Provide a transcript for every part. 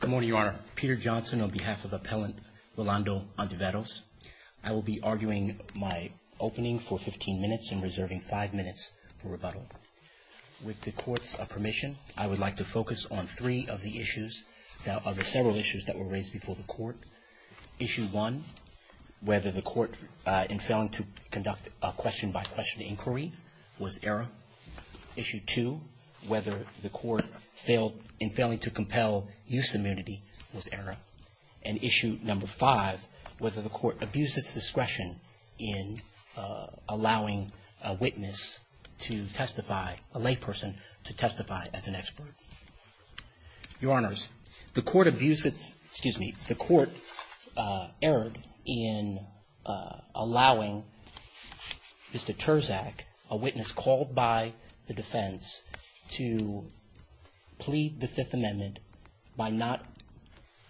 Good morning, Your Honor. Peter Johnson on behalf of Appellant Rolando Ontiveros. I will be arguing my opening for 15 minutes and reserving 5 minutes for rebuttal. With the Court's permission, I would like to focus on three of the issues, several issues that were raised before the Court. Issue 1, whether the Court in failing to conduct a question-by-question inquiry was error. Issue 2, whether the Court in failing to compel use of immunity was error. And issue number 5, whether the Court abused its discretion in allowing a witness to testify, a layperson, to testify as an expert. Your Honors, the Court abused its, excuse me, the witness called by the defense to plead the Fifth Amendment by not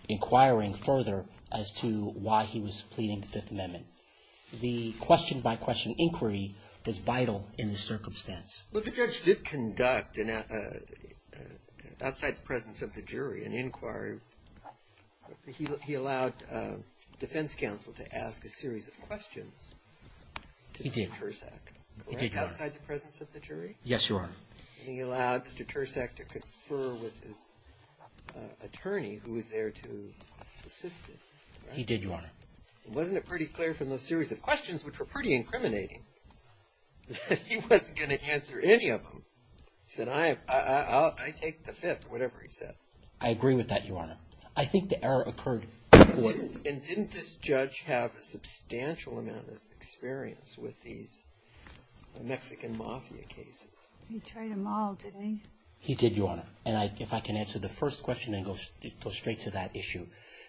inquiring further as to why he was pleading the Fifth Amendment. The question-by-question inquiry was vital in this circumstance. Roberts Well, the judge did conduct, outside the presence of the jury, an inquiry. He allowed defense counsel to ask a series of questions. He did, Your Honor. Right outside the presence of the jury? Yes, Your Honor. And he allowed Mr. Tursak to confer with his attorney, who was there to assist him. He did, Your Honor. Wasn't it pretty clear from those series of questions, which were pretty incriminating, that he wasn't going to answer any of them? He said, I take the Fifth, or whatever he said. I agree with that, Your Honor. I think the error occurred before. And didn't this judge have a substantial amount of experience with these Mexican Mafia cases? He tried them all, didn't he? He did, Your Honor. And if I can answer the first question and go straight to that issue.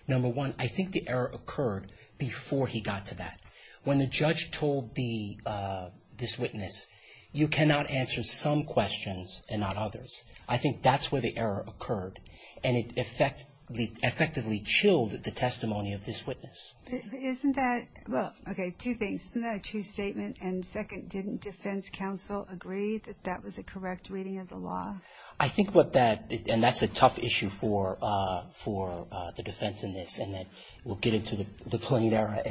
Number one, I think the error occurred before he got to that. When the judge told this witness, you cannot answer some questions and not others. I think that's where the error occurred. And it effectively chilled the testimony of this witness. Isn't that, well, okay, two things. Isn't that a true statement? And second, didn't defense counsel agree that that was a correct reading of the law? I think what that, and that's a tough issue for the defense in this, and that we'll get into the plain error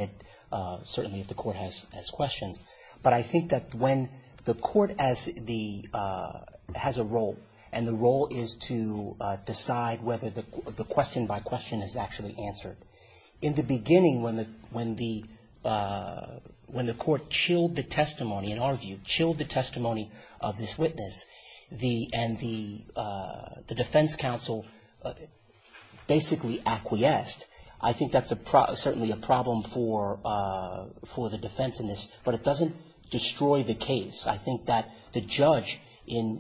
certainly if the court has questions. But I think that when the court has a role, and the role is to decide whether the question by question is actually answered. In the beginning, when the court chilled the testimony, in our view, chilled the testimony of this witness, and the defense counsel basically acquiesced, I think that's certainly a problem for the defense in this. But it doesn't destroy the case. I think that the judge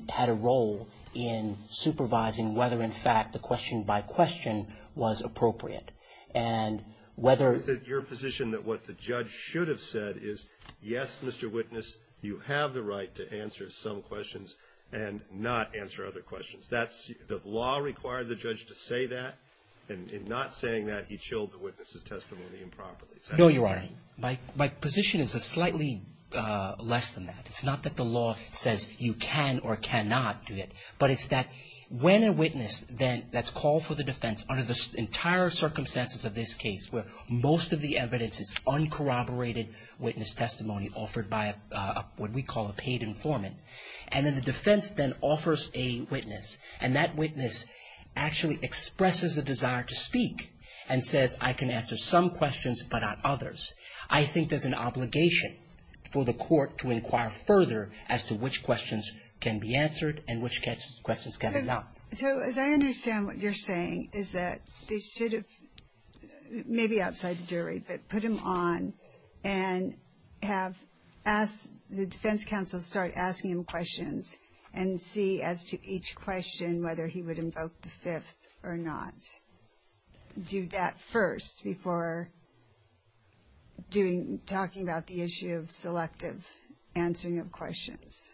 had a role in supervising whether, in fact, the question by question was appropriate. And whether your position that what the judge should have said is, yes, Mr. Witness, you have the right to answer some questions and not answer other questions. That's the law required the judge to say that. And in not saying that, he chilled the witness's testimony improperly. No, Your Honor. My position is slightly less than that. It's not that the law says you can or cannot do it. But it's that when a witness then that's called for the defense under the entire circumstances of this case, where most of the evidence is uncorroborated witness testimony offered by what we call a paid informant. And then the defense then offers a witness. And that witness actually expresses a desire to speak and says, I can answer some questions but not others. I think there's an obligation for the court to inquire further as to which questions can be answered and which questions cannot. So as I understand what you're saying is that they should have, maybe outside the jury, but put him on and have the defense counsel start asking him questions and see as to each question whether he would invoke the fifth or not. Do that first before talking about the issue of selective answering of questions.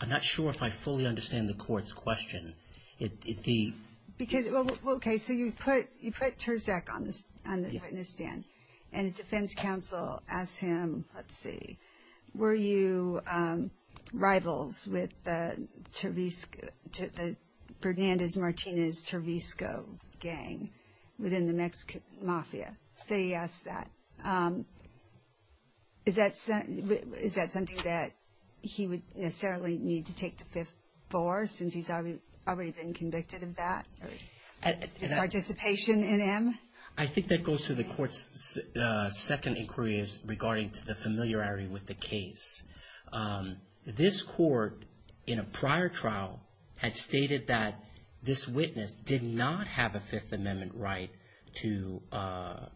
I'm not sure if I fully understand the court's question. Okay, so you put Terzak on the witness stand and the defense counsel asked him, let's see, were you rivals with the Fernandez-Martinez-Turvisco gang within the Mexican mafia? So he asked that. Is that something that he would necessarily need to take the fifth for since he's already been convicted of that? His participation in him? I think that goes to the court's second inquiry is regarding to the familiarity with the case. This court in a prior trial had stated that this witness did not have a Fifth Amendment right to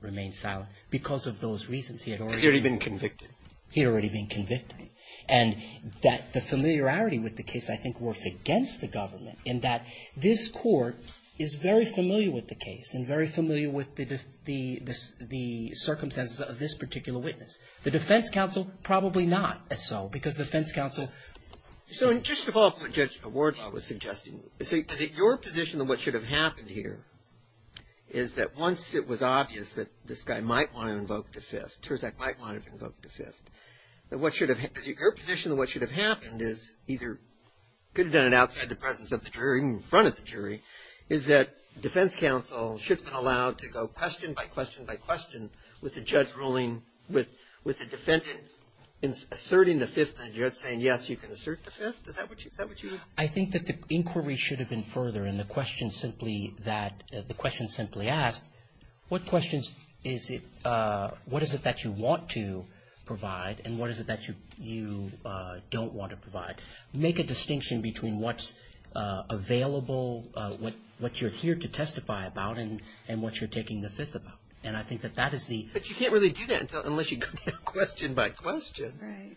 remain silent because of those reasons. He had already been convicted. He had already been convicted. And that the familiarity with the case, I think, works against the government in that this court is very familiar with the case and very familiar with the circumstances of this particular witness. The defense counsel probably not as so because the defense counsel. So just to follow up what Judge Ward was suggesting, so is it your position that what should have happened here is that once it was obvious that this guy might want to invoke the Fifth, Terzak might want to invoke the Fifth, that what should have happened, is it your position that what should have happened is either, could have done it outside the presence of the jury or in front of the jury, is that defense counsel should have been allowed to go question by question by question with the judge ruling, with the defendant asserting the Fifth and the judge saying, yes, you can assert the Fifth? Is that what you think? I think that the inquiry should have been further in the question simply that, the question simply asked, what questions is it, what is it that you want to provide and what is it that you don't want to provide? Make a distinction between what's available, what you're here to testify about, and what you're taking the Fifth about. And I think that that is the. But you can't really do that unless you go question by question. Right.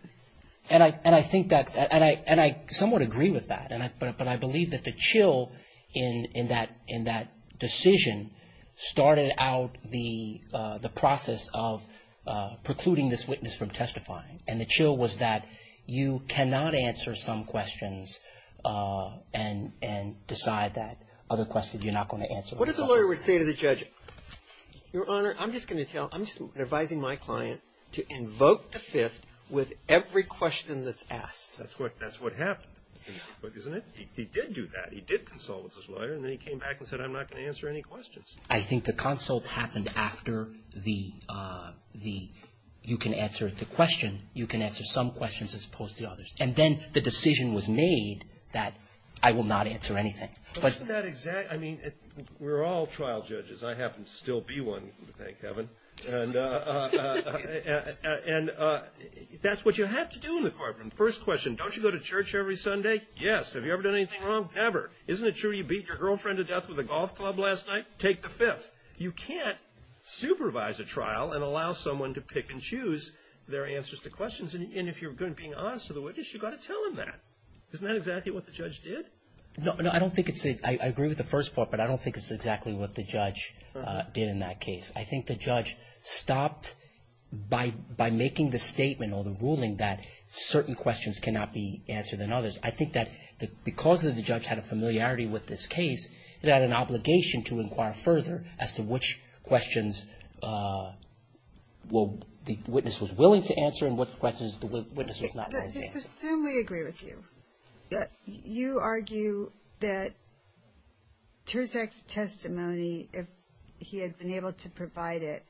And I think that, and I somewhat agree with that. But I believe that the chill in that decision started out the process of precluding this witness from testifying. And the chill was that you cannot answer some questions and decide that other questions you're not going to answer. What if the lawyer would say to the judge, Your Honor, I'm just going to tell, I'm just advising my client to invoke the Fifth with every question that's asked. That's what happened, isn't it? He did do that. He did consult with his lawyer and then he came back and said, I'm not going to answer any questions. I think the consult happened after the, you can answer the question, you can answer some questions as opposed to the others. And then the decision was made that I will not answer anything. But isn't that exact, I mean, we're all trial judges. I happen to still be one, thank heaven. And that's what you have to do in the courtroom. First question, don't you go to church every Sunday? Yes. Have you ever done anything wrong? Ever. Isn't it true you beat your girlfriend to death with a golf club last night? Take the Fifth. You can't supervise a trial and allow someone to pick and choose their answers to questions. And if you're being honest to the witness, you've got to tell them that. Isn't that exactly what the judge did? No, I don't think it's, I agree with the first part, but I don't think it's exactly what the judge did in that case. I think the judge stopped by making the statement or the ruling that certain questions cannot be answered than others. I think that because the judge had a familiarity with this case, it had an obligation to inquire further as to which questions the witness was willing to answer and what questions the witness was not willing to answer. Let's assume we agree with you. You argue that Terzak's testimony, if he had been able to provide it,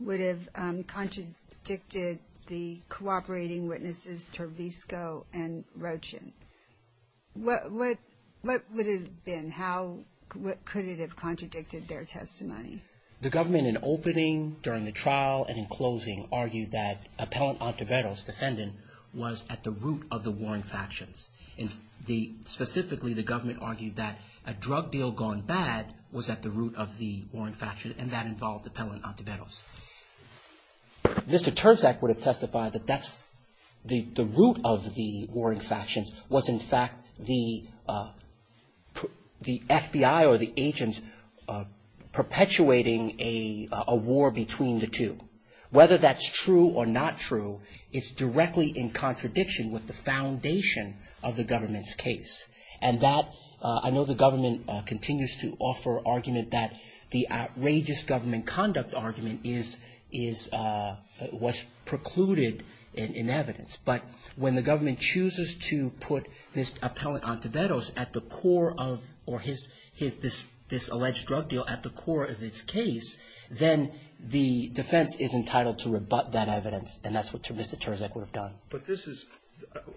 would have contradicted the cooperating witnesses Tervisco and Rochin. What would it have been? How could it have contradicted their testimony? The government, in opening, during the trial, and in closing, argued that Appellant Ontiveros, defendant, was at the root of the warring factions. Specifically, the government argued that a drug deal gone bad was at the root of the warring factions, and that involved Appellant Ontiveros. Mr. Terzak would have testified that the root of the warring factions was, in fact, the FBI or the agents perpetuating a war between the two. Whether that's true or not true, it's directly in contradiction with the foundation of the government's case. And that, I know the government continues to offer argument that the outrageous government conduct argument was precluded in evidence. But when the government chooses to put this Appellant Ontiveros at the core of, or this alleged drug deal at the core of its case, then the defense is entitled to rebut that evidence. And that's what Mr. Terzak would have done. But this is,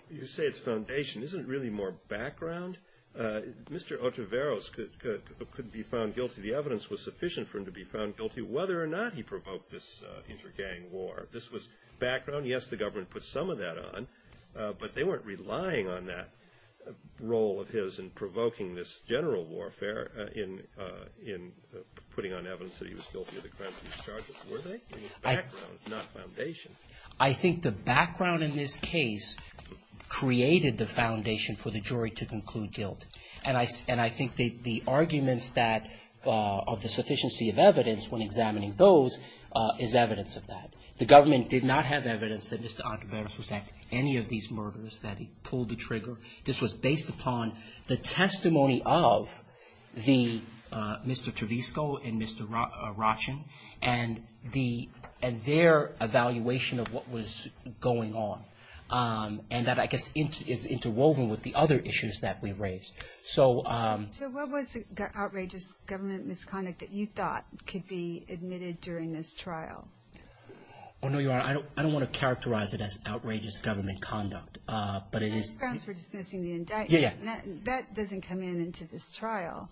you say it's foundation. Isn't it really more background? Mr. Ontiveros could be found guilty. The evidence was sufficient for him to be found guilty, whether or not he provoked this intergang war. This was background. Yes, the government put some of that on. But they weren't relying on that role of his in provoking this general warfare in putting on evidence that he was guilty of the crimes he was charged with, were they? It was background, not foundation. I think the background in this case created the foundation for the jury to conclude guilt. And I think the arguments that of the sufficiency of evidence when examining those is evidence of that. The government did not have evidence that Mr. Ontiveros was at any of these murders, that he pulled the trigger. This was based upon the testimony of Mr. Trevisco and Mr. Rochin and their evaluation of what was going on. And that, I guess, is interwoven with the other issues that we raised. So what was the outrageous government misconduct that you thought could be admitted during this trial? Oh, no, Your Honor. I don't want to characterize it as outrageous government conduct. But it is. The grounds for dismissing the indictment. Yeah, yeah. That doesn't come in into this trial.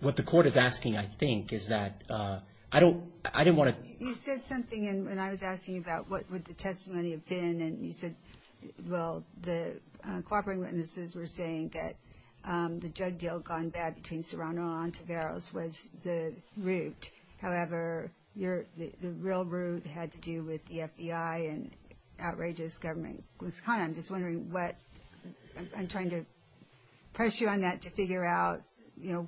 What the court is asking, I think, is that I don't want to. You said something when I was asking you about what would the testimony have been. And you said, well, the cooperating witnesses were saying that the drug deal gone bad between Serrano and Ontiveros was the root. However, the real root had to do with the FBI and outrageous government misconduct. I'm trying to press you on that to figure out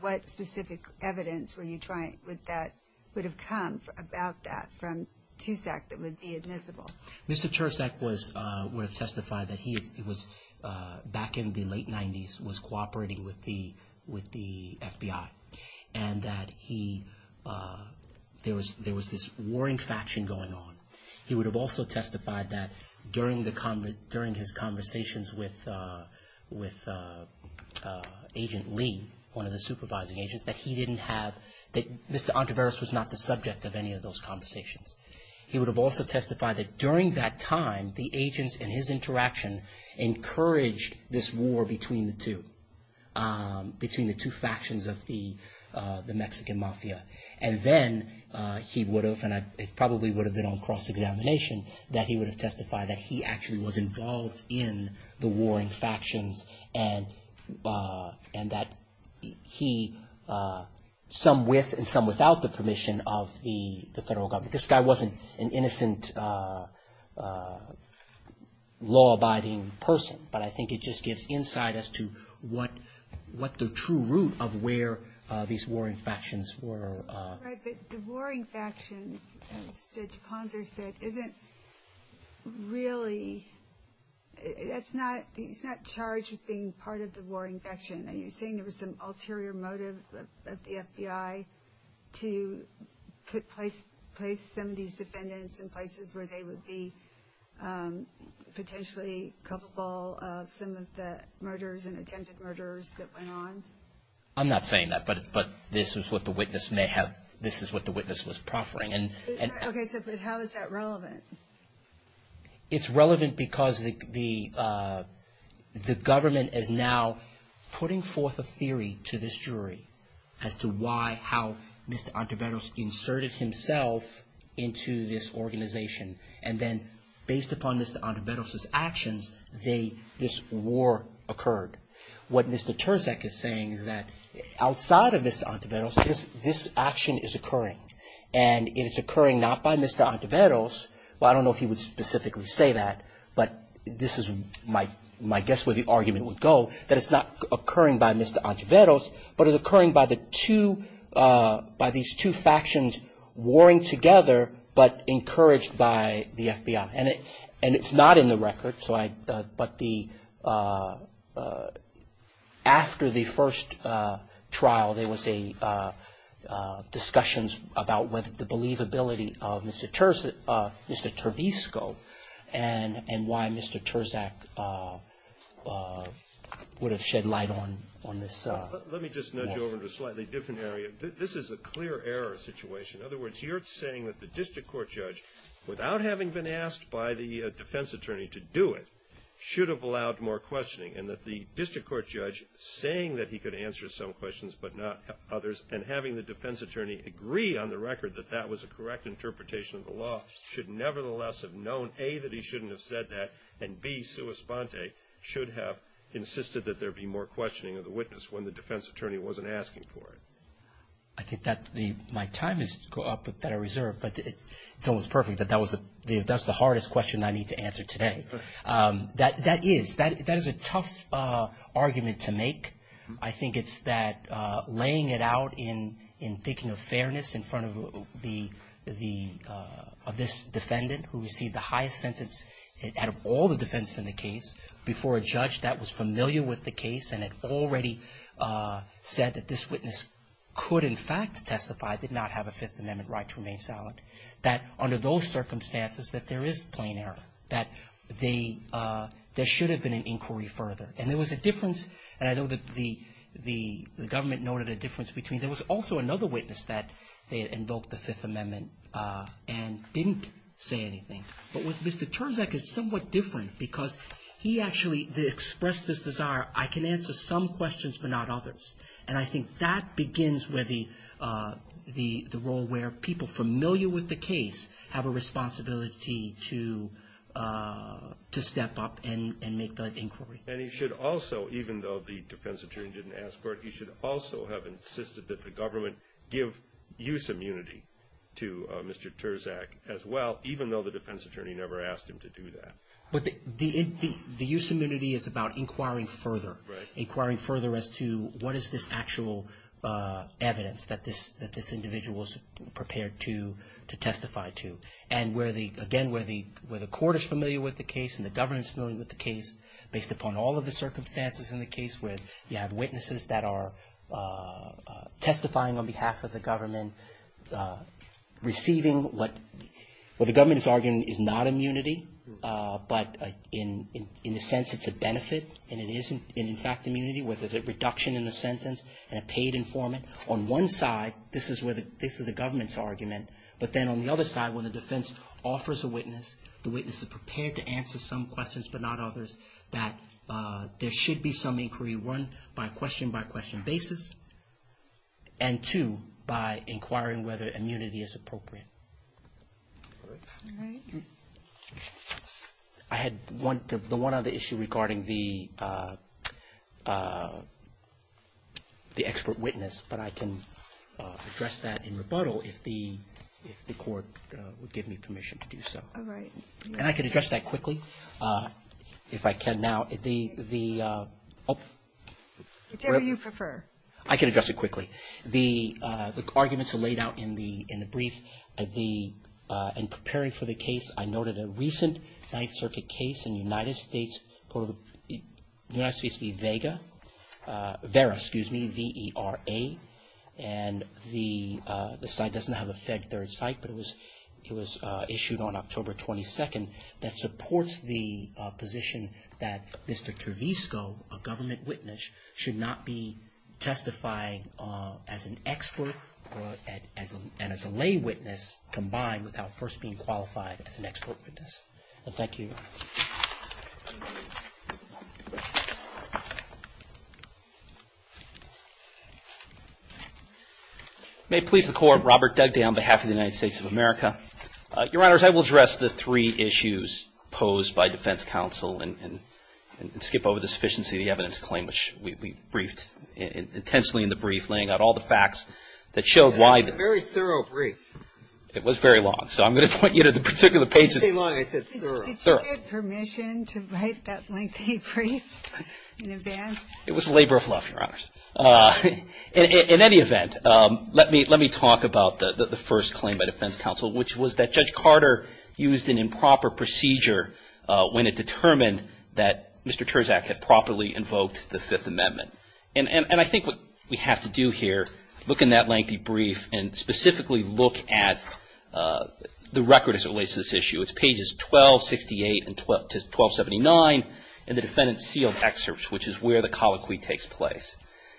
what specific evidence would have come about that from TUSAC that would be admissible. Mr. Tervisco would have testified that he, back in the late 90s, was cooperating with the FBI. And that there was this warring faction going on. He would have also testified that during his conversations with Agent Lee, one of the supervising agents, that he didn't have, that Mr. Ontiveros was not the subject of any of those conversations. He would have also testified that during that time, the agents and his interaction encouraged this war between the two, between the two factions of the Mexican mafia. And then he would have, and it probably would have been on cross-examination, that he would have testified that he actually was involved in the warring factions. And that he, some with and some without the permission of the federal government, this guy wasn't an innocent, law-abiding person. But I think it just gives insight as to what the true root of where these warring factions were. Right, but the warring factions, as Judge Ponzer said, isn't really, that's not, he's not charged with being part of the warring faction. Are you saying there was some ulterior motive of the FBI to put place, place some of these defendants in places where they would be potentially culpable of some of the murders and attempted murders that went on? I'm not saying that, but this is what the witness may have, this is what the witness was proffering. Okay, but how is that relevant? It's relevant because the government is now putting forth a theory to this jury as to why, how Mr. Ontiveros inserted himself into this organization. And then based upon Mr. Ontiveros' actions, this war occurred. What Mr. Terzak is saying is that outside of Mr. Ontiveros, this action is occurring. And it's occurring not by Mr. Ontiveros, well I don't know if he would specifically say that, but this is my guess where the argument would go, that it's not occurring by Mr. Ontiveros, but it's occurring by the two, by these two factions warring together, but encouraged by the FBI. And it's not in the record, so I, but the, after the first trial, there was a, discussions about whether the believability of Mr. Terzak, Mr. Tervisco, and why Mr. Terzak would have shed light on this. Let me just nudge over to a slightly different area. This is a clear error situation. In other words, you're saying that the district court judge, without having been asked by the defense attorney to do it, should have allowed more questioning, and that the district court judge, saying that he could answer some questions but not others, and having the defense attorney agree on the record that that was a correct interpretation of the law, should nevertheless have known, A, that he shouldn't have said that, and B, sua sponte, should have insisted that there be more questioning of the witness when the defense attorney wasn't asking for it. I think that the, my time is up, that I reserve, but it's almost perfect that that was the, that's the hardest question I need to answer today. That is, that is a tough argument to make. I think it's that laying it out in thinking of fairness in front of this defendant who received the highest sentence out of all the defendants in the case, before a judge that was familiar with the case and had already said that this witness could in fact testify, did not have a Fifth Amendment right to remain silent, that under those circumstances that there is plain error, that there should have been an inquiry further. And there was a difference, and I know that the government noted a difference between, there was also another witness that they had invoked the Fifth Amendment and didn't say anything. But with Mr. Terzak, it's somewhat different because he actually expressed this desire, I can answer some questions but not others. And I think that begins with the role where people familiar with the case have a responsibility to step up and make the inquiry. And he should also, even though the defense attorney didn't ask for it, he should also have insisted that the government give use immunity to Mr. Terzak as well, even though the defense attorney never asked him to do that. But the use immunity is about inquiring further. Right. Inquiring further as to what is this actual evidence that this individual is prepared to testify to. Again, where the court is familiar with the case and the government is familiar with the case, based upon all of the circumstances in the case, where you have witnesses that are testifying on behalf of the government, receiving what the government is arguing is not immunity, but in the sense it's a benefit, and it is in fact immunity with a reduction in the sentence and a paid informant. On one side, this is the government's argument. But then on the other side, when the defense offers a witness, the witness is prepared to answer some questions but not others, that there should be some inquiry, one, by question-by-question basis, and two, by inquiring whether immunity is appropriate. All right. I had the one other issue regarding the expert witness, but I can address that in rebuttal if the court would give me permission to do so. All right. And I can address that quickly, if I can now. Whichever you prefer. I can address it quickly. The arguments are laid out in the brief. In preparing for the case, I noted a recent Ninth Circuit case in the United States VERA, V-E-R-A. And the site doesn't have a Fed Third Site, but it was issued on October 22nd, that supports the position that Mr. Tervisco, a government witness, should not be testifying as an expert and as a lay witness combined without first being qualified as an expert witness. And thank you. May it please the Court. Robert Dugdale on behalf of the United States of America. Your Honors, I will address the three issues posed by defense counsel and skip over the sufficiency of the evidence claim, which we briefed intensely in the brief, laying out all the facts that showed why the brief. It was a very thorough brief. It was very long. So I'm going to point you to the particular pages. I didn't say long. I said thorough. Did you get permission to write that lengthy brief in advance? It was labor of love, Your Honors. In any event, let me talk about the first claim by defense counsel, which was that Judge Carter used an improper procedure when it determined that Mr. Terzak had properly invoked the Fifth Amendment. And I think what we have to do here, look in that lengthy brief and specifically look at the record as it relates to this issue. It's pages 1268 to 1279 in the defendant's sealed excerpts, which is where the colloquy takes place.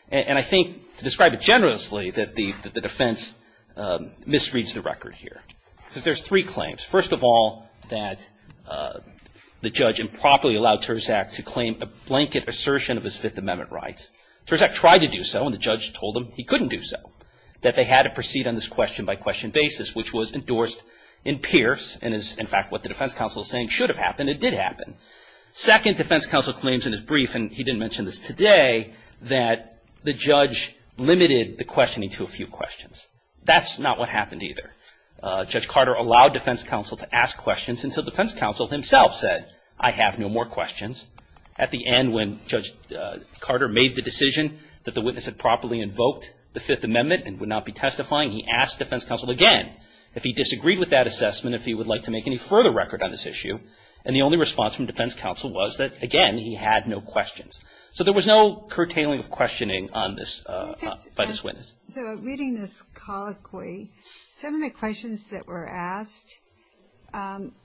And I think, to describe it generously, that the defense misreads the record here. Because there's three claims. First of all, that the judge improperly allowed Terzak to claim a blanket assertion of his Fifth Amendment rights. Terzak tried to do so, and the judge told him he couldn't do so, that they had to proceed on this question-by-question basis, which was endorsed in Pierce and is, in fact, what the defense counsel is saying should have happened. It did happen. Second, defense counsel claims in his brief, and he didn't mention this today, that the judge limited the questioning to a few questions. That's not what happened either. Judge Carter allowed defense counsel to ask questions, and so defense counsel himself said, I have no more questions. At the end, when Judge Carter made the decision that the witness had properly invoked the Fifth Amendment and would not be testifying, he asked defense counsel again if he disagreed with that assessment, if he would like to make any further record on this issue. And the only response from defense counsel was that, again, he had no questions. So there was no curtailing of questioning by this witness. So reading this colloquy, some of the questions that were asked,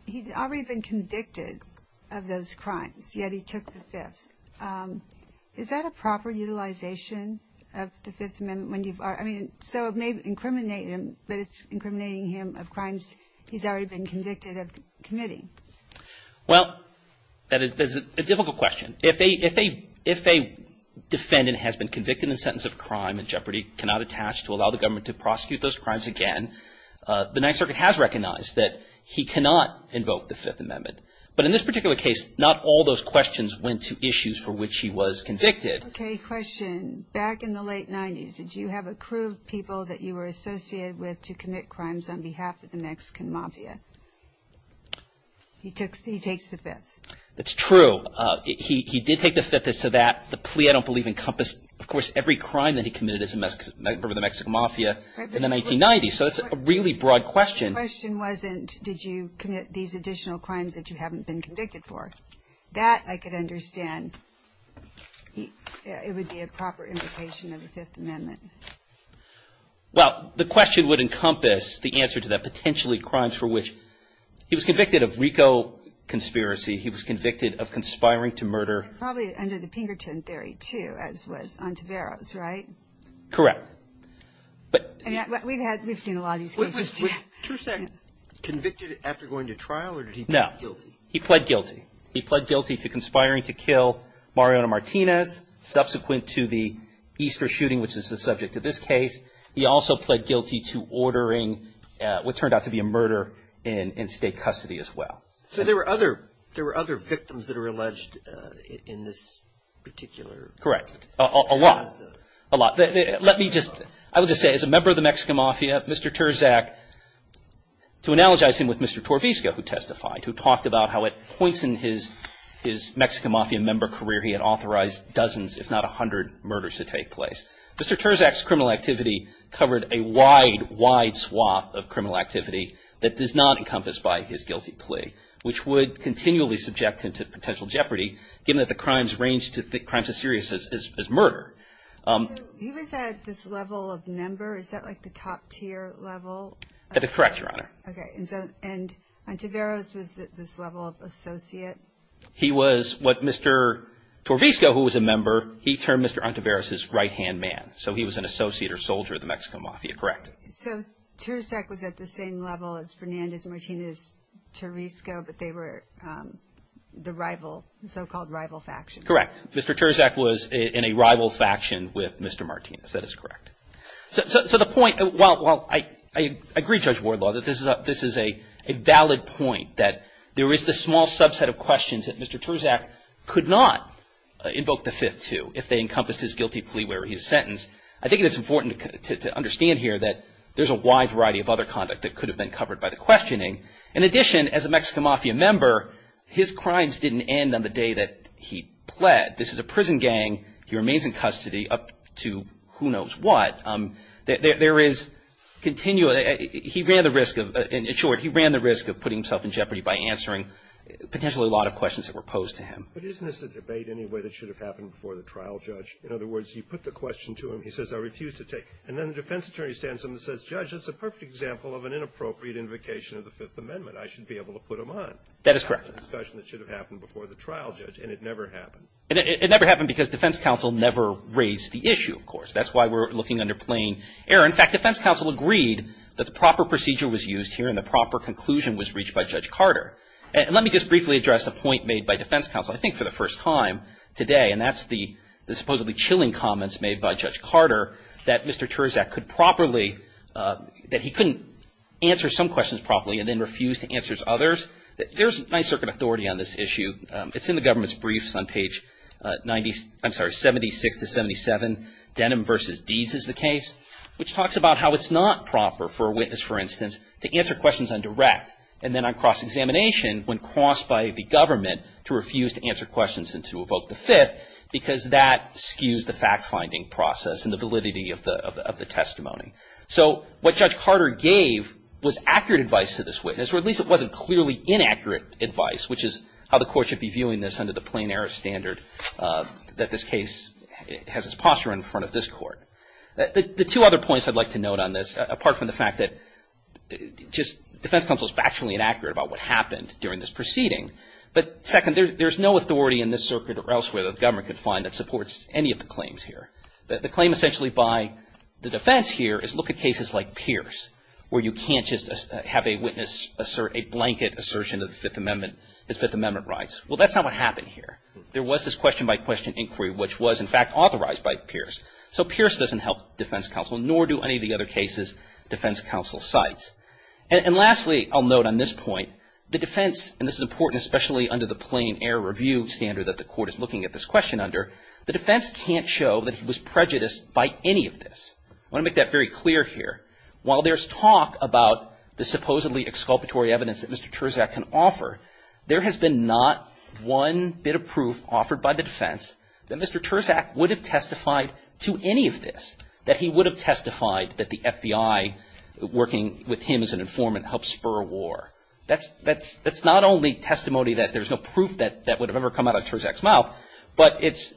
he'd already been convicted of those crimes, yet he took the Fifth. Is that a proper utilization of the Fifth Amendment? I mean, so it may incriminate him, but it's incriminating him of crimes he's already been convicted of committing. Well, that is a difficult question. If a defendant has been convicted and sentenced of a crime and Jeopardy! cannot attach to allow the government to prosecute those crimes again, the Ninth Circuit has recognized that he cannot invoke the Fifth Amendment. But in this particular case, not all those questions went to issues for which he was convicted. Okay, question. Back in the late 90s, did you have a crew of people that you were associated with to commit crimes on behalf of the Mexican Mafia? He takes the Fifth. That's true. He did take the Fifth. As to that, the plea, I don't believe, encompassed, of course, every crime that he committed as a member of the Mexican Mafia in the 1990s. So that's a really broad question. The question wasn't, did you commit these additional crimes that you haven't been convicted for. That, I could understand. It would be a proper invocation of the Fifth Amendment. Well, the question would encompass the answer to that, potentially crimes for which he was convicted of RICO conspiracy. He was convicted of conspiring to murder. Probably under the Pinkerton theory, too, as was Ontiveros, right? Correct. We've seen a lot of these cases. Was Terzak convicted after going to trial, or did he plead guilty? No. He pled guilty. He pled guilty to conspiring to kill Mariona Martinez subsequent to the Easter shooting, which is the subject of this case. He also pled guilty to ordering what turned out to be a murder in state custody as well. So there were other victims that were alleged in this particular case. Correct. A lot. A lot. Let me just, I will just say, as a member of the Mexican Mafia, Mr. Terzak, to analogize him with Mr. Torvizco, who testified, who talked about how at points in his Mexican Mafia member career he had authorized dozens, if not a hundred, murders to take place. Mr. Terzak's criminal activity covered a wide, wide swath of criminal activity that is not encompassed by his guilty plea, which would continually subject him to potential jeopardy, given that the crimes ranged, the crimes as serious as murder. So he was at this level of member? Is that like the top tier level? Correct, Your Honor. Okay. And Antiveros was at this level of associate? He was what Mr. Torvizco, who was a member, he termed Mr. Antiveros his right-hand man. So he was an associate or soldier of the Mexican Mafia. Correct. So Terzak was at the same level as Fernandez Martinez Torvizco, but they were the rival, the so-called rival factions. Correct. Mr. Terzak was in a rival faction with Mr. Martinez. That is correct. So the point, while I agree, Judge Wardlaw, that this is a valid point, that there is this small subset of questions that Mr. Terzak could not invoke the fifth to if they encompassed his guilty plea where he was sentenced. I think it's important to understand here that there's a wide variety of other conduct that could have been covered by the questioning. In addition, as a Mexican Mafia member, his crimes didn't end on the day that he fled. This is a prison gang. He remains in custody up to who knows what. There is continual, he ran the risk of, in short, he ran the risk of putting himself in jeopardy by answering potentially a lot of questions that were posed to him. But isn't this a debate anyway that should have happened before the trial judge? In other words, you put the question to him, he says, I refuse to take, and then the defense attorney stands up and says, Judge, that's a perfect example of an inappropriate invocation of the Fifth Amendment. I should be able to put him on. That is correct. It's a discussion that should have happened before the trial judge, and it never happened. And it never happened because defense counsel never raised the issue, of course. That's why we're looking under plain error. In fact, defense counsel agreed that the proper procedure was used here and the proper conclusion was reached by Judge Carter. And let me just briefly address the point made by defense counsel, I think for the first time today, and that's the supposedly chilling comments made by Judge Carter that Mr. Terzak could properly, that he couldn't answer some questions properly and then refuse to answer others. There's nice circuit authority on this issue. It's in the government's briefs on page 90, I'm sorry, 76 to 77. Denim versus deeds is the case, which talks about how it's not proper for a witness, for instance, to answer questions on direct and then on cross-examination when coerced by the government to refuse to answer questions and to evoke the Fifth because that skews the fact-finding process and the validity of the testimony. So what Judge Carter gave was accurate advice to this witness, or at least it wasn't clearly inaccurate advice, which is how the court should be viewing this under the plain-error standard that this case has its posture in front of this court. The two other points I'd like to note on this, apart from the fact that just defense counsel is factually inaccurate about what happened during this proceeding, but second, there's no authority in this circuit or elsewhere that the government could find that supports any of the claims here. The claim essentially by the defense here is look at cases like Pierce where you can't just have a witness assert a blanket assertion of the Fifth Amendment, his Fifth Amendment rights. Well, that's not what happened here. There was this question-by-question inquiry, which was, in fact, authorized by Pierce. So Pierce doesn't help defense counsel, nor do any of the other cases defense counsel cites. And lastly, I'll note on this point, the defense, and this is important especially under the plain-error review standard that the court is looking at this question under, the defense can't show that he was prejudiced by any of this. I want to make that very clear here. While there's talk about the supposedly exculpatory evidence that Mr. Terzak can offer, there has been not one bit of proof offered by the defense that Mr. Terzak would have testified to any of this, that he would have testified that the FBI, working with him as an informant, helped spur a war. That's not only testimony that there's no proof that would have ever come out of Terzak's mouth, but it's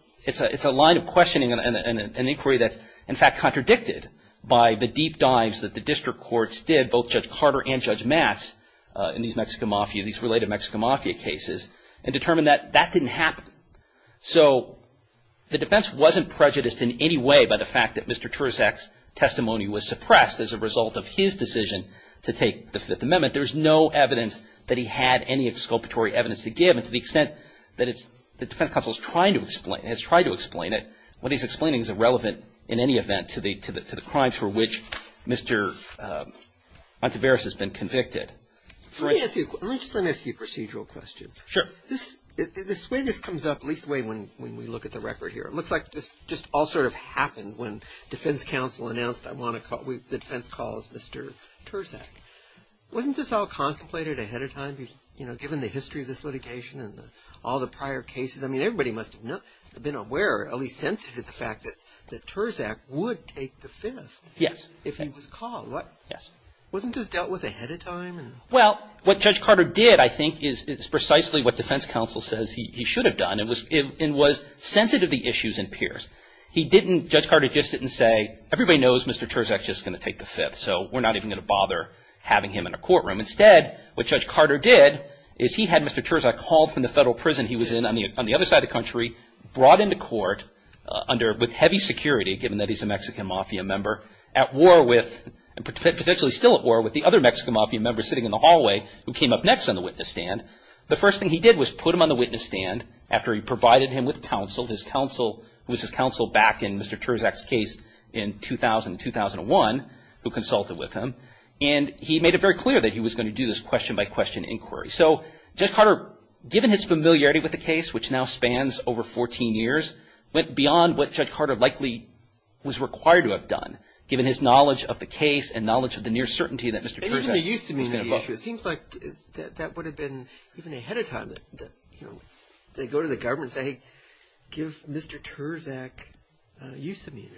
a line of questioning and inquiry that's, in fact, contradicted by the deep dives that the district courts did, both Judge Carter and Judge Matz, in these Mexican Mafia, these related Mexican Mafia cases, and determined that that didn't happen. So the defense wasn't prejudiced in any way by the fact that Mr. Terzak's testimony was suppressed as a result of his decision to take the Fifth Amendment. There's no evidence that he had any exculpatory evidence to give, and to the extent that it's, the defense counsel is trying to explain, has tried to explain it, what he's explaining is irrelevant in any event to the crimes for which Mr. Monteveris has been convicted. Let me just ask you a procedural question. Sure. This way this comes up, at least the way when we look at the record here, it looks like this just all sort of happened when defense counsel announced the defense calls Mr. Terzak. Wasn't this all contemplated ahead of time, given the history of this litigation and all the prior cases? I mean, everybody must have been aware, at least sensitive to the fact that Terzak would take the Fifth if he was called. Yes. Wasn't this dealt with ahead of time? Well, what Judge Carter did, I think, is precisely what defense counsel says he should have done, and was sensitive to the issues and peers. He didn't, Judge Carter just didn't say, everybody knows Mr. Terzak's just going to take the Fifth, so we're not even going to bother having him in a courtroom. Instead, what Judge Carter did is he had Mr. Terzak hauled from the Federal Prison he was in on the other side of the country, brought into court under, with heavy security, given that he's a Mexican Mafia member, at war with, potentially still at war with the other Mexican Mafia member sitting in the hallway who came up next on the witness stand. The first thing he did was put him on the witness stand after he provided him with counsel, his counsel, who was his counsel back in Mr. Terzak's case in 2000 and 2001, who consulted with him. And he made it very clear that he was going to do this question-by-question inquiry. So Judge Carter, given his familiarity with the case, which now spans over 14 years, went beyond what Judge Carter likely was required to have done, given his knowledge of the case and knowledge of the near certainty that Mr. Terzak was going to vote. Even the use immunity issue, it seems like that would have been even ahead of time that, you know, they go to the government and say, hey, give Mr. Terzak use immunity.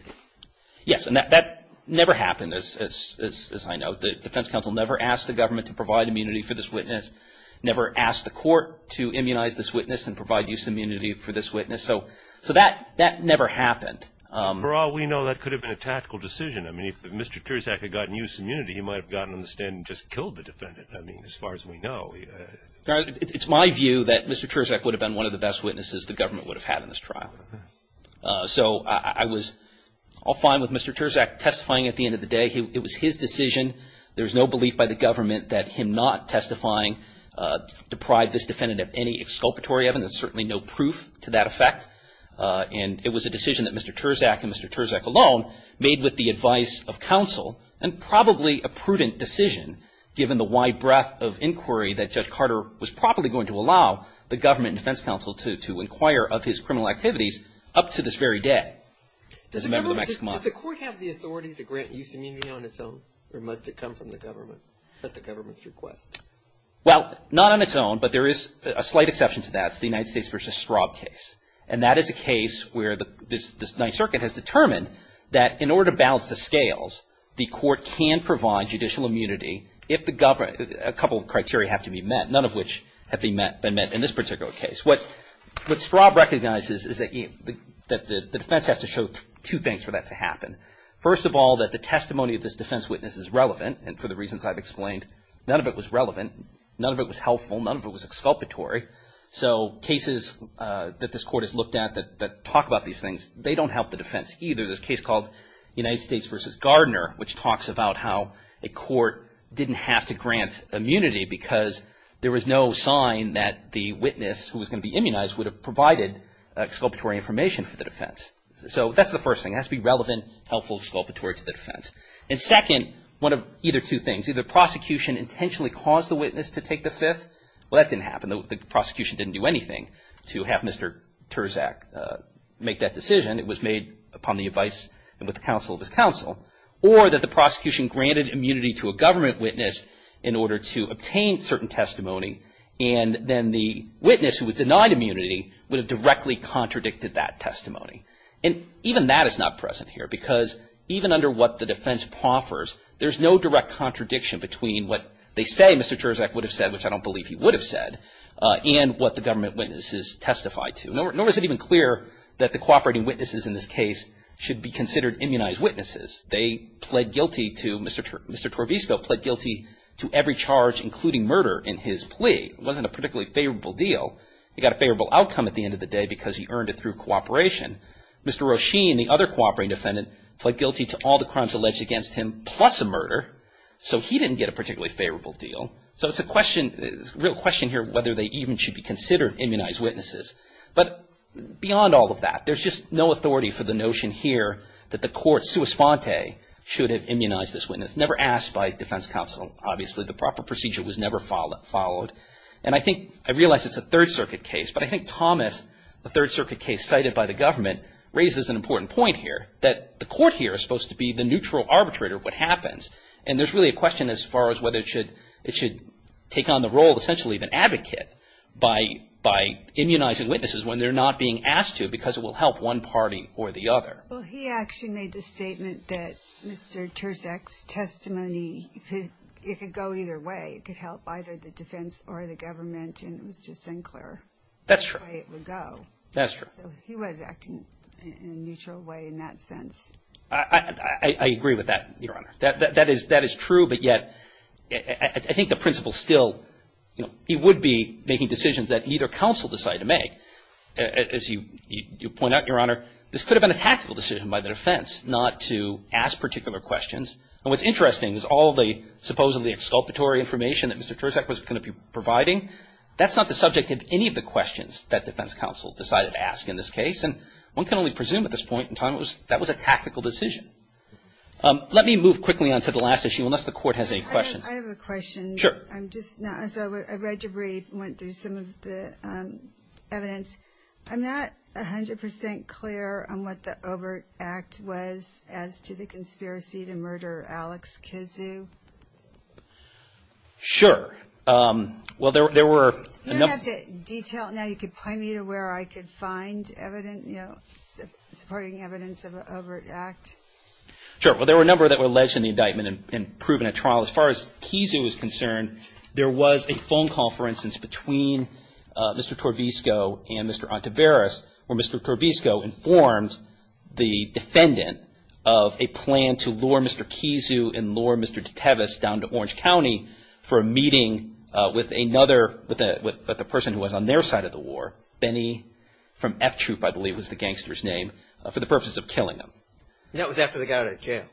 Yes, and that never happened, as I know. The defense counsel never asked the government to provide immunity for this witness, never asked the court to immunize this witness and provide use immunity for this witness. So that never happened. For all we know, that could have been a tactical decision. I mean, if Mr. Terzak had gotten use immunity, he might have gotten on the stand and just killed the defendant, I mean, as far as we know. It's my view that Mr. Terzak would have been one of the best witnesses the government would have had in this trial. So I was all fine with Mr. Terzak testifying at the end of the day. It was his decision. There's no belief by the government that him not testifying deprived this defendant of any exculpatory evidence. There's certainly no proof to that effect. And it was a decision that Mr. Terzak and Mr. Terzak alone made with the advice of counsel and probably a prudent decision, given the wide breadth of inquiry that Judge Carter was probably going to allow the government and defense counsel to inquire of his criminal activities up to this very day. Does the court have the authority to grant use immunity on its own, or must it come from the government at the government's request? Well, not on its own, but there is a slight exception to that. It's the United States v. Straub case. And that is a case where the Ninth Circuit has determined that in order to balance the scales, the court can provide judicial immunity if a couple of criteria have to be met, none of which have been met in this particular case. What Straub recognizes is that the defense has to show two things for that to happen. First of all, that the testimony of this defense witness is relevant, and for the reasons I've explained, none of it was relevant. None of it was helpful. None of it was exculpatory. So cases that this court has looked at that talk about these things, they don't help the defense either. There's a case called United States v. Gardner, which talks about how a court didn't have to grant immunity because there was no sign that the witness who was going to be immunized would have provided exculpatory information for the defense. So that's the first thing. It has to be relevant, helpful, exculpatory to the defense. And second, one of either two things. Either the prosecution intentionally caused the witness to take the Fifth. Well, that didn't happen. The prosecution didn't do anything to have Mr. Terzak make that decision. It was made upon the advice and with the counsel of his counsel. Or that the prosecution granted immunity to a government witness in order to obtain certain testimony and then the witness who was denied immunity would have directly contradicted that testimony. And even that is not present here because even under what the defense proffers, there's no direct contradiction between what they say Mr. Terzak would have said, which I don't believe he would have said, and what the government witnesses testified to. Nor is it even clear that the cooperating witnesses in this case should be considered immunized witnesses. They pled guilty to, Mr. Torvisco pled guilty to every charge, including murder, in his plea. It wasn't a particularly favorable deal. He got a favorable outcome at the end of the day because he earned it through cooperation. Mr. Roshin, the other cooperating defendant, pled guilty to all the crimes alleged against him plus a murder. So he didn't get a particularly favorable deal. So it's a question, real question here whether they even should be considered immunized witnesses. But beyond all of that, there's just no authority for the notion here that the respondent should have immunized this witness. Never asked by defense counsel, obviously. The proper procedure was never followed. And I think, I realize it's a Third Circuit case, but I think Thomas, the Third Circuit case cited by the government, raises an important point here that the court here is supposed to be the neutral arbitrator of what happens. And there's really a question as far as whether it should take on the role of essentially the advocate by immunizing witnesses when they're not being asked to because it will help one party or the other. Well, he actually made the statement that Mr. Terzak's testimony, it could go either way. It could help either the defense or the government, and it was just unclear. That's true. That's the way it would go. That's true. So he was acting in a neutral way in that sense. I agree with that, Your Honor. That is true, but yet I think the principle still, you know, he would be making decisions that either counsel decide to make. As you point out, Your Honor, this could have been a tactical decision by the defense not to ask particular questions. And what's interesting is all the supposedly exculpatory information that Mr. Terzak was going to be providing, that's not the subject of any of the questions that defense counsel decided to ask in this case. And one can only presume at this point in time that that was a tactical decision. Let me move quickly on to the last issue unless the court has any questions. I have a question. Sure. I read your brief and went through some of the evidence. I'm not 100% clear on what the Overt Act was as to the conspiracy to murder Alex Kizu. Sure. Well, there were a number of... You don't have to detail it now. You could point me to where I could find evidence, you know, supporting evidence of an Overt Act. Sure. Well, there were a number that were alleged in the indictment and proven at trial. As far as Kizu was concerned, there was a phone call, for instance, between Mr. Torvizco and Mr. Ontiveros where Mr. Torvizco informed the defendant of a plan to lure Mr. Kizu and lure Mr. Deteves down to Orange County for a meeting with another person who was on their side of the war, Benny from F Troop, I believe was the gangster's name, for the purposes of killing him. That was after they got out of jail.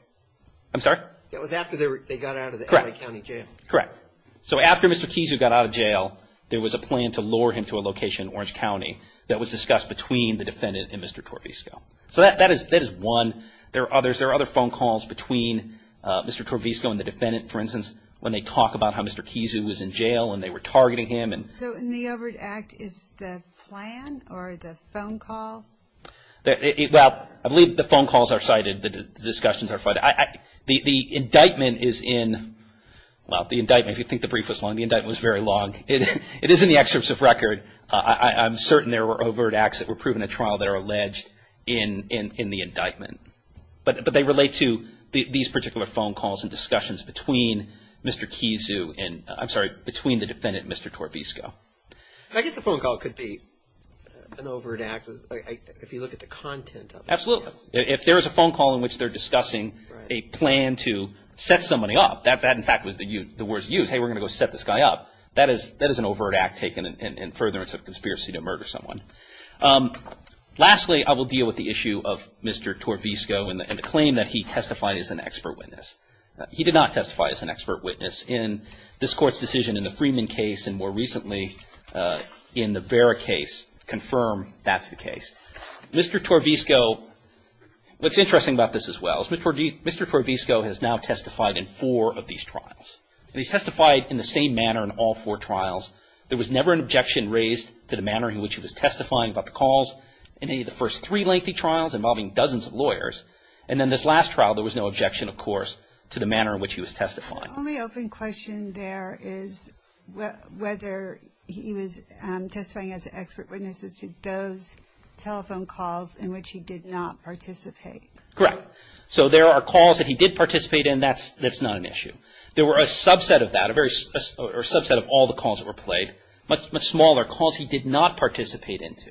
I'm sorry? That was after they got out of the L.A. County jail. Correct. So after Mr. Kizu got out of jail, there was a plan to lure him to a location in Orange County that was discussed between the defendant and Mr. Torvizco. So that is one. There are other phone calls between Mr. Torvizco and the defendant, for instance, when they talk about how Mr. Kizu was in jail and they were targeting him. So in the Overt Act, is the plan or the phone call? Well, I believe the phone calls are cited, the discussions are cited. The indictment is in, well, the indictment, if you think the brief was long, the indictment was very long. It is in the excerpts of record. I'm certain there were Overt Acts that were proven at trial that are alleged in the indictment. But they relate to these particular phone calls and discussions between Mr. Kizu and, I'm sorry, between the defendant and Mr. Torvizco. I guess the phone call could be an Overt Act if you look at the content of it. Absolutely. If there is a phone call in which they're discussing a plan to set somebody up, that in fact would be the worst use. Hey, we're going to go set this guy up. That is an Overt Act taken in furtherance of conspiracy to murder someone. Lastly, I will deal with the issue of Mr. Torvizco and the claim that he testified as an expert witness. He did not testify as an expert witness in this Court's decision in the Freeman case Mr. Torvizco, what's interesting about this as well, is Mr. Torvizco has now testified in four of these trials. He's testified in the same manner in all four trials. There was never an objection raised to the manner in which he was testifying about the calls in any of the first three lengthy trials involving dozens of lawyers. And in this last trial, there was no objection, of course, to the manner in which he was testifying. The only open question there is whether he was testifying as an expert witness as to those telephone calls in which he did not participate. Correct. So there are calls that he did participate in, that's not an issue. There were a subset of that, or a subset of all the calls that were played, much smaller calls he did not participate into.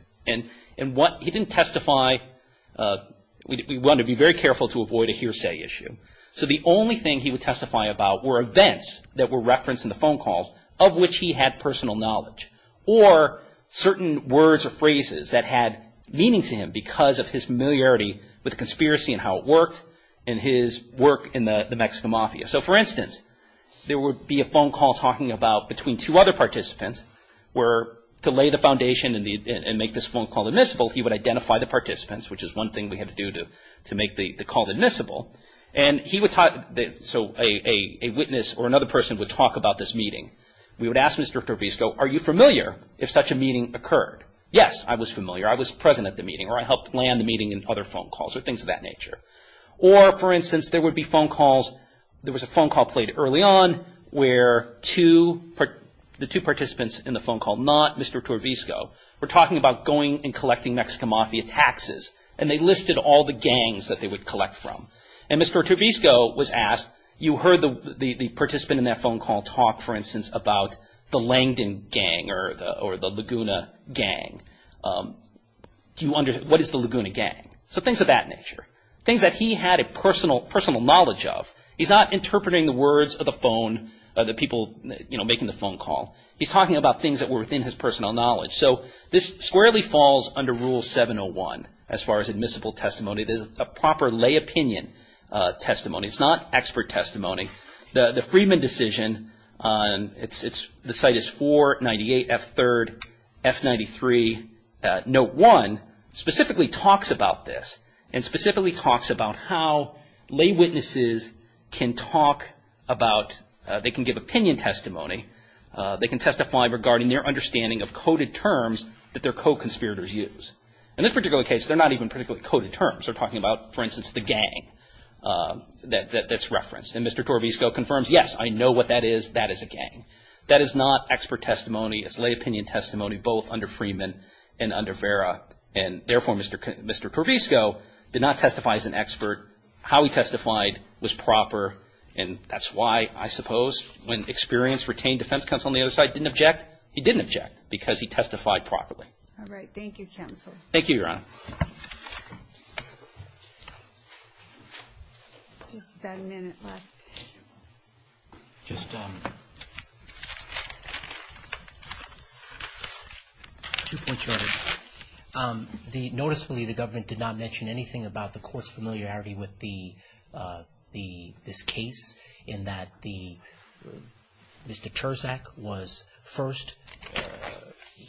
And what he didn't testify, we want to be very careful to avoid a hearsay issue. So the only thing he would testify about were events that were referenced in the phone calls of which he had personal knowledge, or certain words or phrases that had meaning to him because of his familiarity with conspiracy and how it worked, and his work in the Mexican mafia. So for instance, there would be a phone call talking about between two other participants where to lay the foundation and make this phone call admissible, he would identify the participants, which is one thing we had to do to make the call admissible. And he would talk, so a witness or another person would talk about this meeting. We would ask Mr. Torvisco, are you familiar if such a meeting occurred? Yes, I was familiar. I was present at the meeting, or I helped plan the meeting and other phone calls, or things of that nature. Or for instance, there would be phone calls, there was a phone call played early on where the two participants in the phone call, not Mr. Torvisco, were talking about going and collecting Mexican mafia taxes, and they listed all the gangs that they would collect from. And Mr. Torvisco was asked, you heard the participant in that phone call talk, for instance, about the Langdon gang or the Laguna gang. What is the Laguna gang? So things of that nature. Things that he had a personal knowledge of. He's not interpreting the words of the phone, the people making the phone call. He's talking about things that were within his personal knowledge. So this squarely falls under Rule 701 as far as admissible testimony. This is a proper lay opinion testimony. It's not expert testimony. The Friedman decision, the site is 498 F3rd, F93, Note 1, specifically talks about this and specifically talks about how lay witnesses can talk about, they can give opinion testimony. They can testify regarding their understanding of coded terms that their co-conspirators use. In this particular case, they're not even particularly coded terms. They're talking about, for instance, the gang that's referenced. And Mr. Torvisco confirms, yes, I know what that is. That is a gang. That is not expert testimony. It's lay opinion testimony both under Friedman and under Vera. And therefore, Mr. Torvisco did not testify as an expert. How he testified was proper. And that's why, I suppose, when experienced retained defense counsel on the other side didn't object, he didn't object because he testified properly. All right. Thank you, counsel. Thank you, Your Honor. We've got a minute left. Just two points. Noticeably, the government did not mention anything about the court's familiarity with this case, in that Mr. Terzak was first.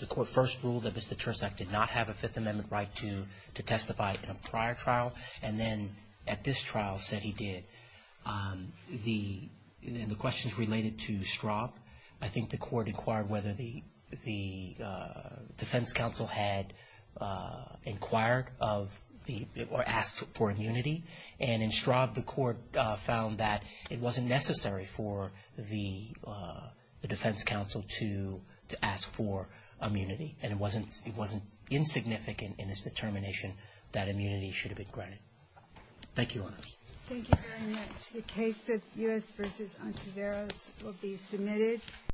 The court first ruled that Mr. Terzak did not have a Fifth Amendment right to testify in a prior trial, and then at this trial said he did. And the questions related to Straub, I think the court inquired whether the defense counsel had inquired or asked for immunity. And in Straub, the court found that it wasn't necessary for the defense counsel to ask for immunity, and it wasn't insignificant in its determination that immunity should have been granted. Thank you, Your Honors. Thank you very much. The case of U.S. v. Ontiveros will be submitted.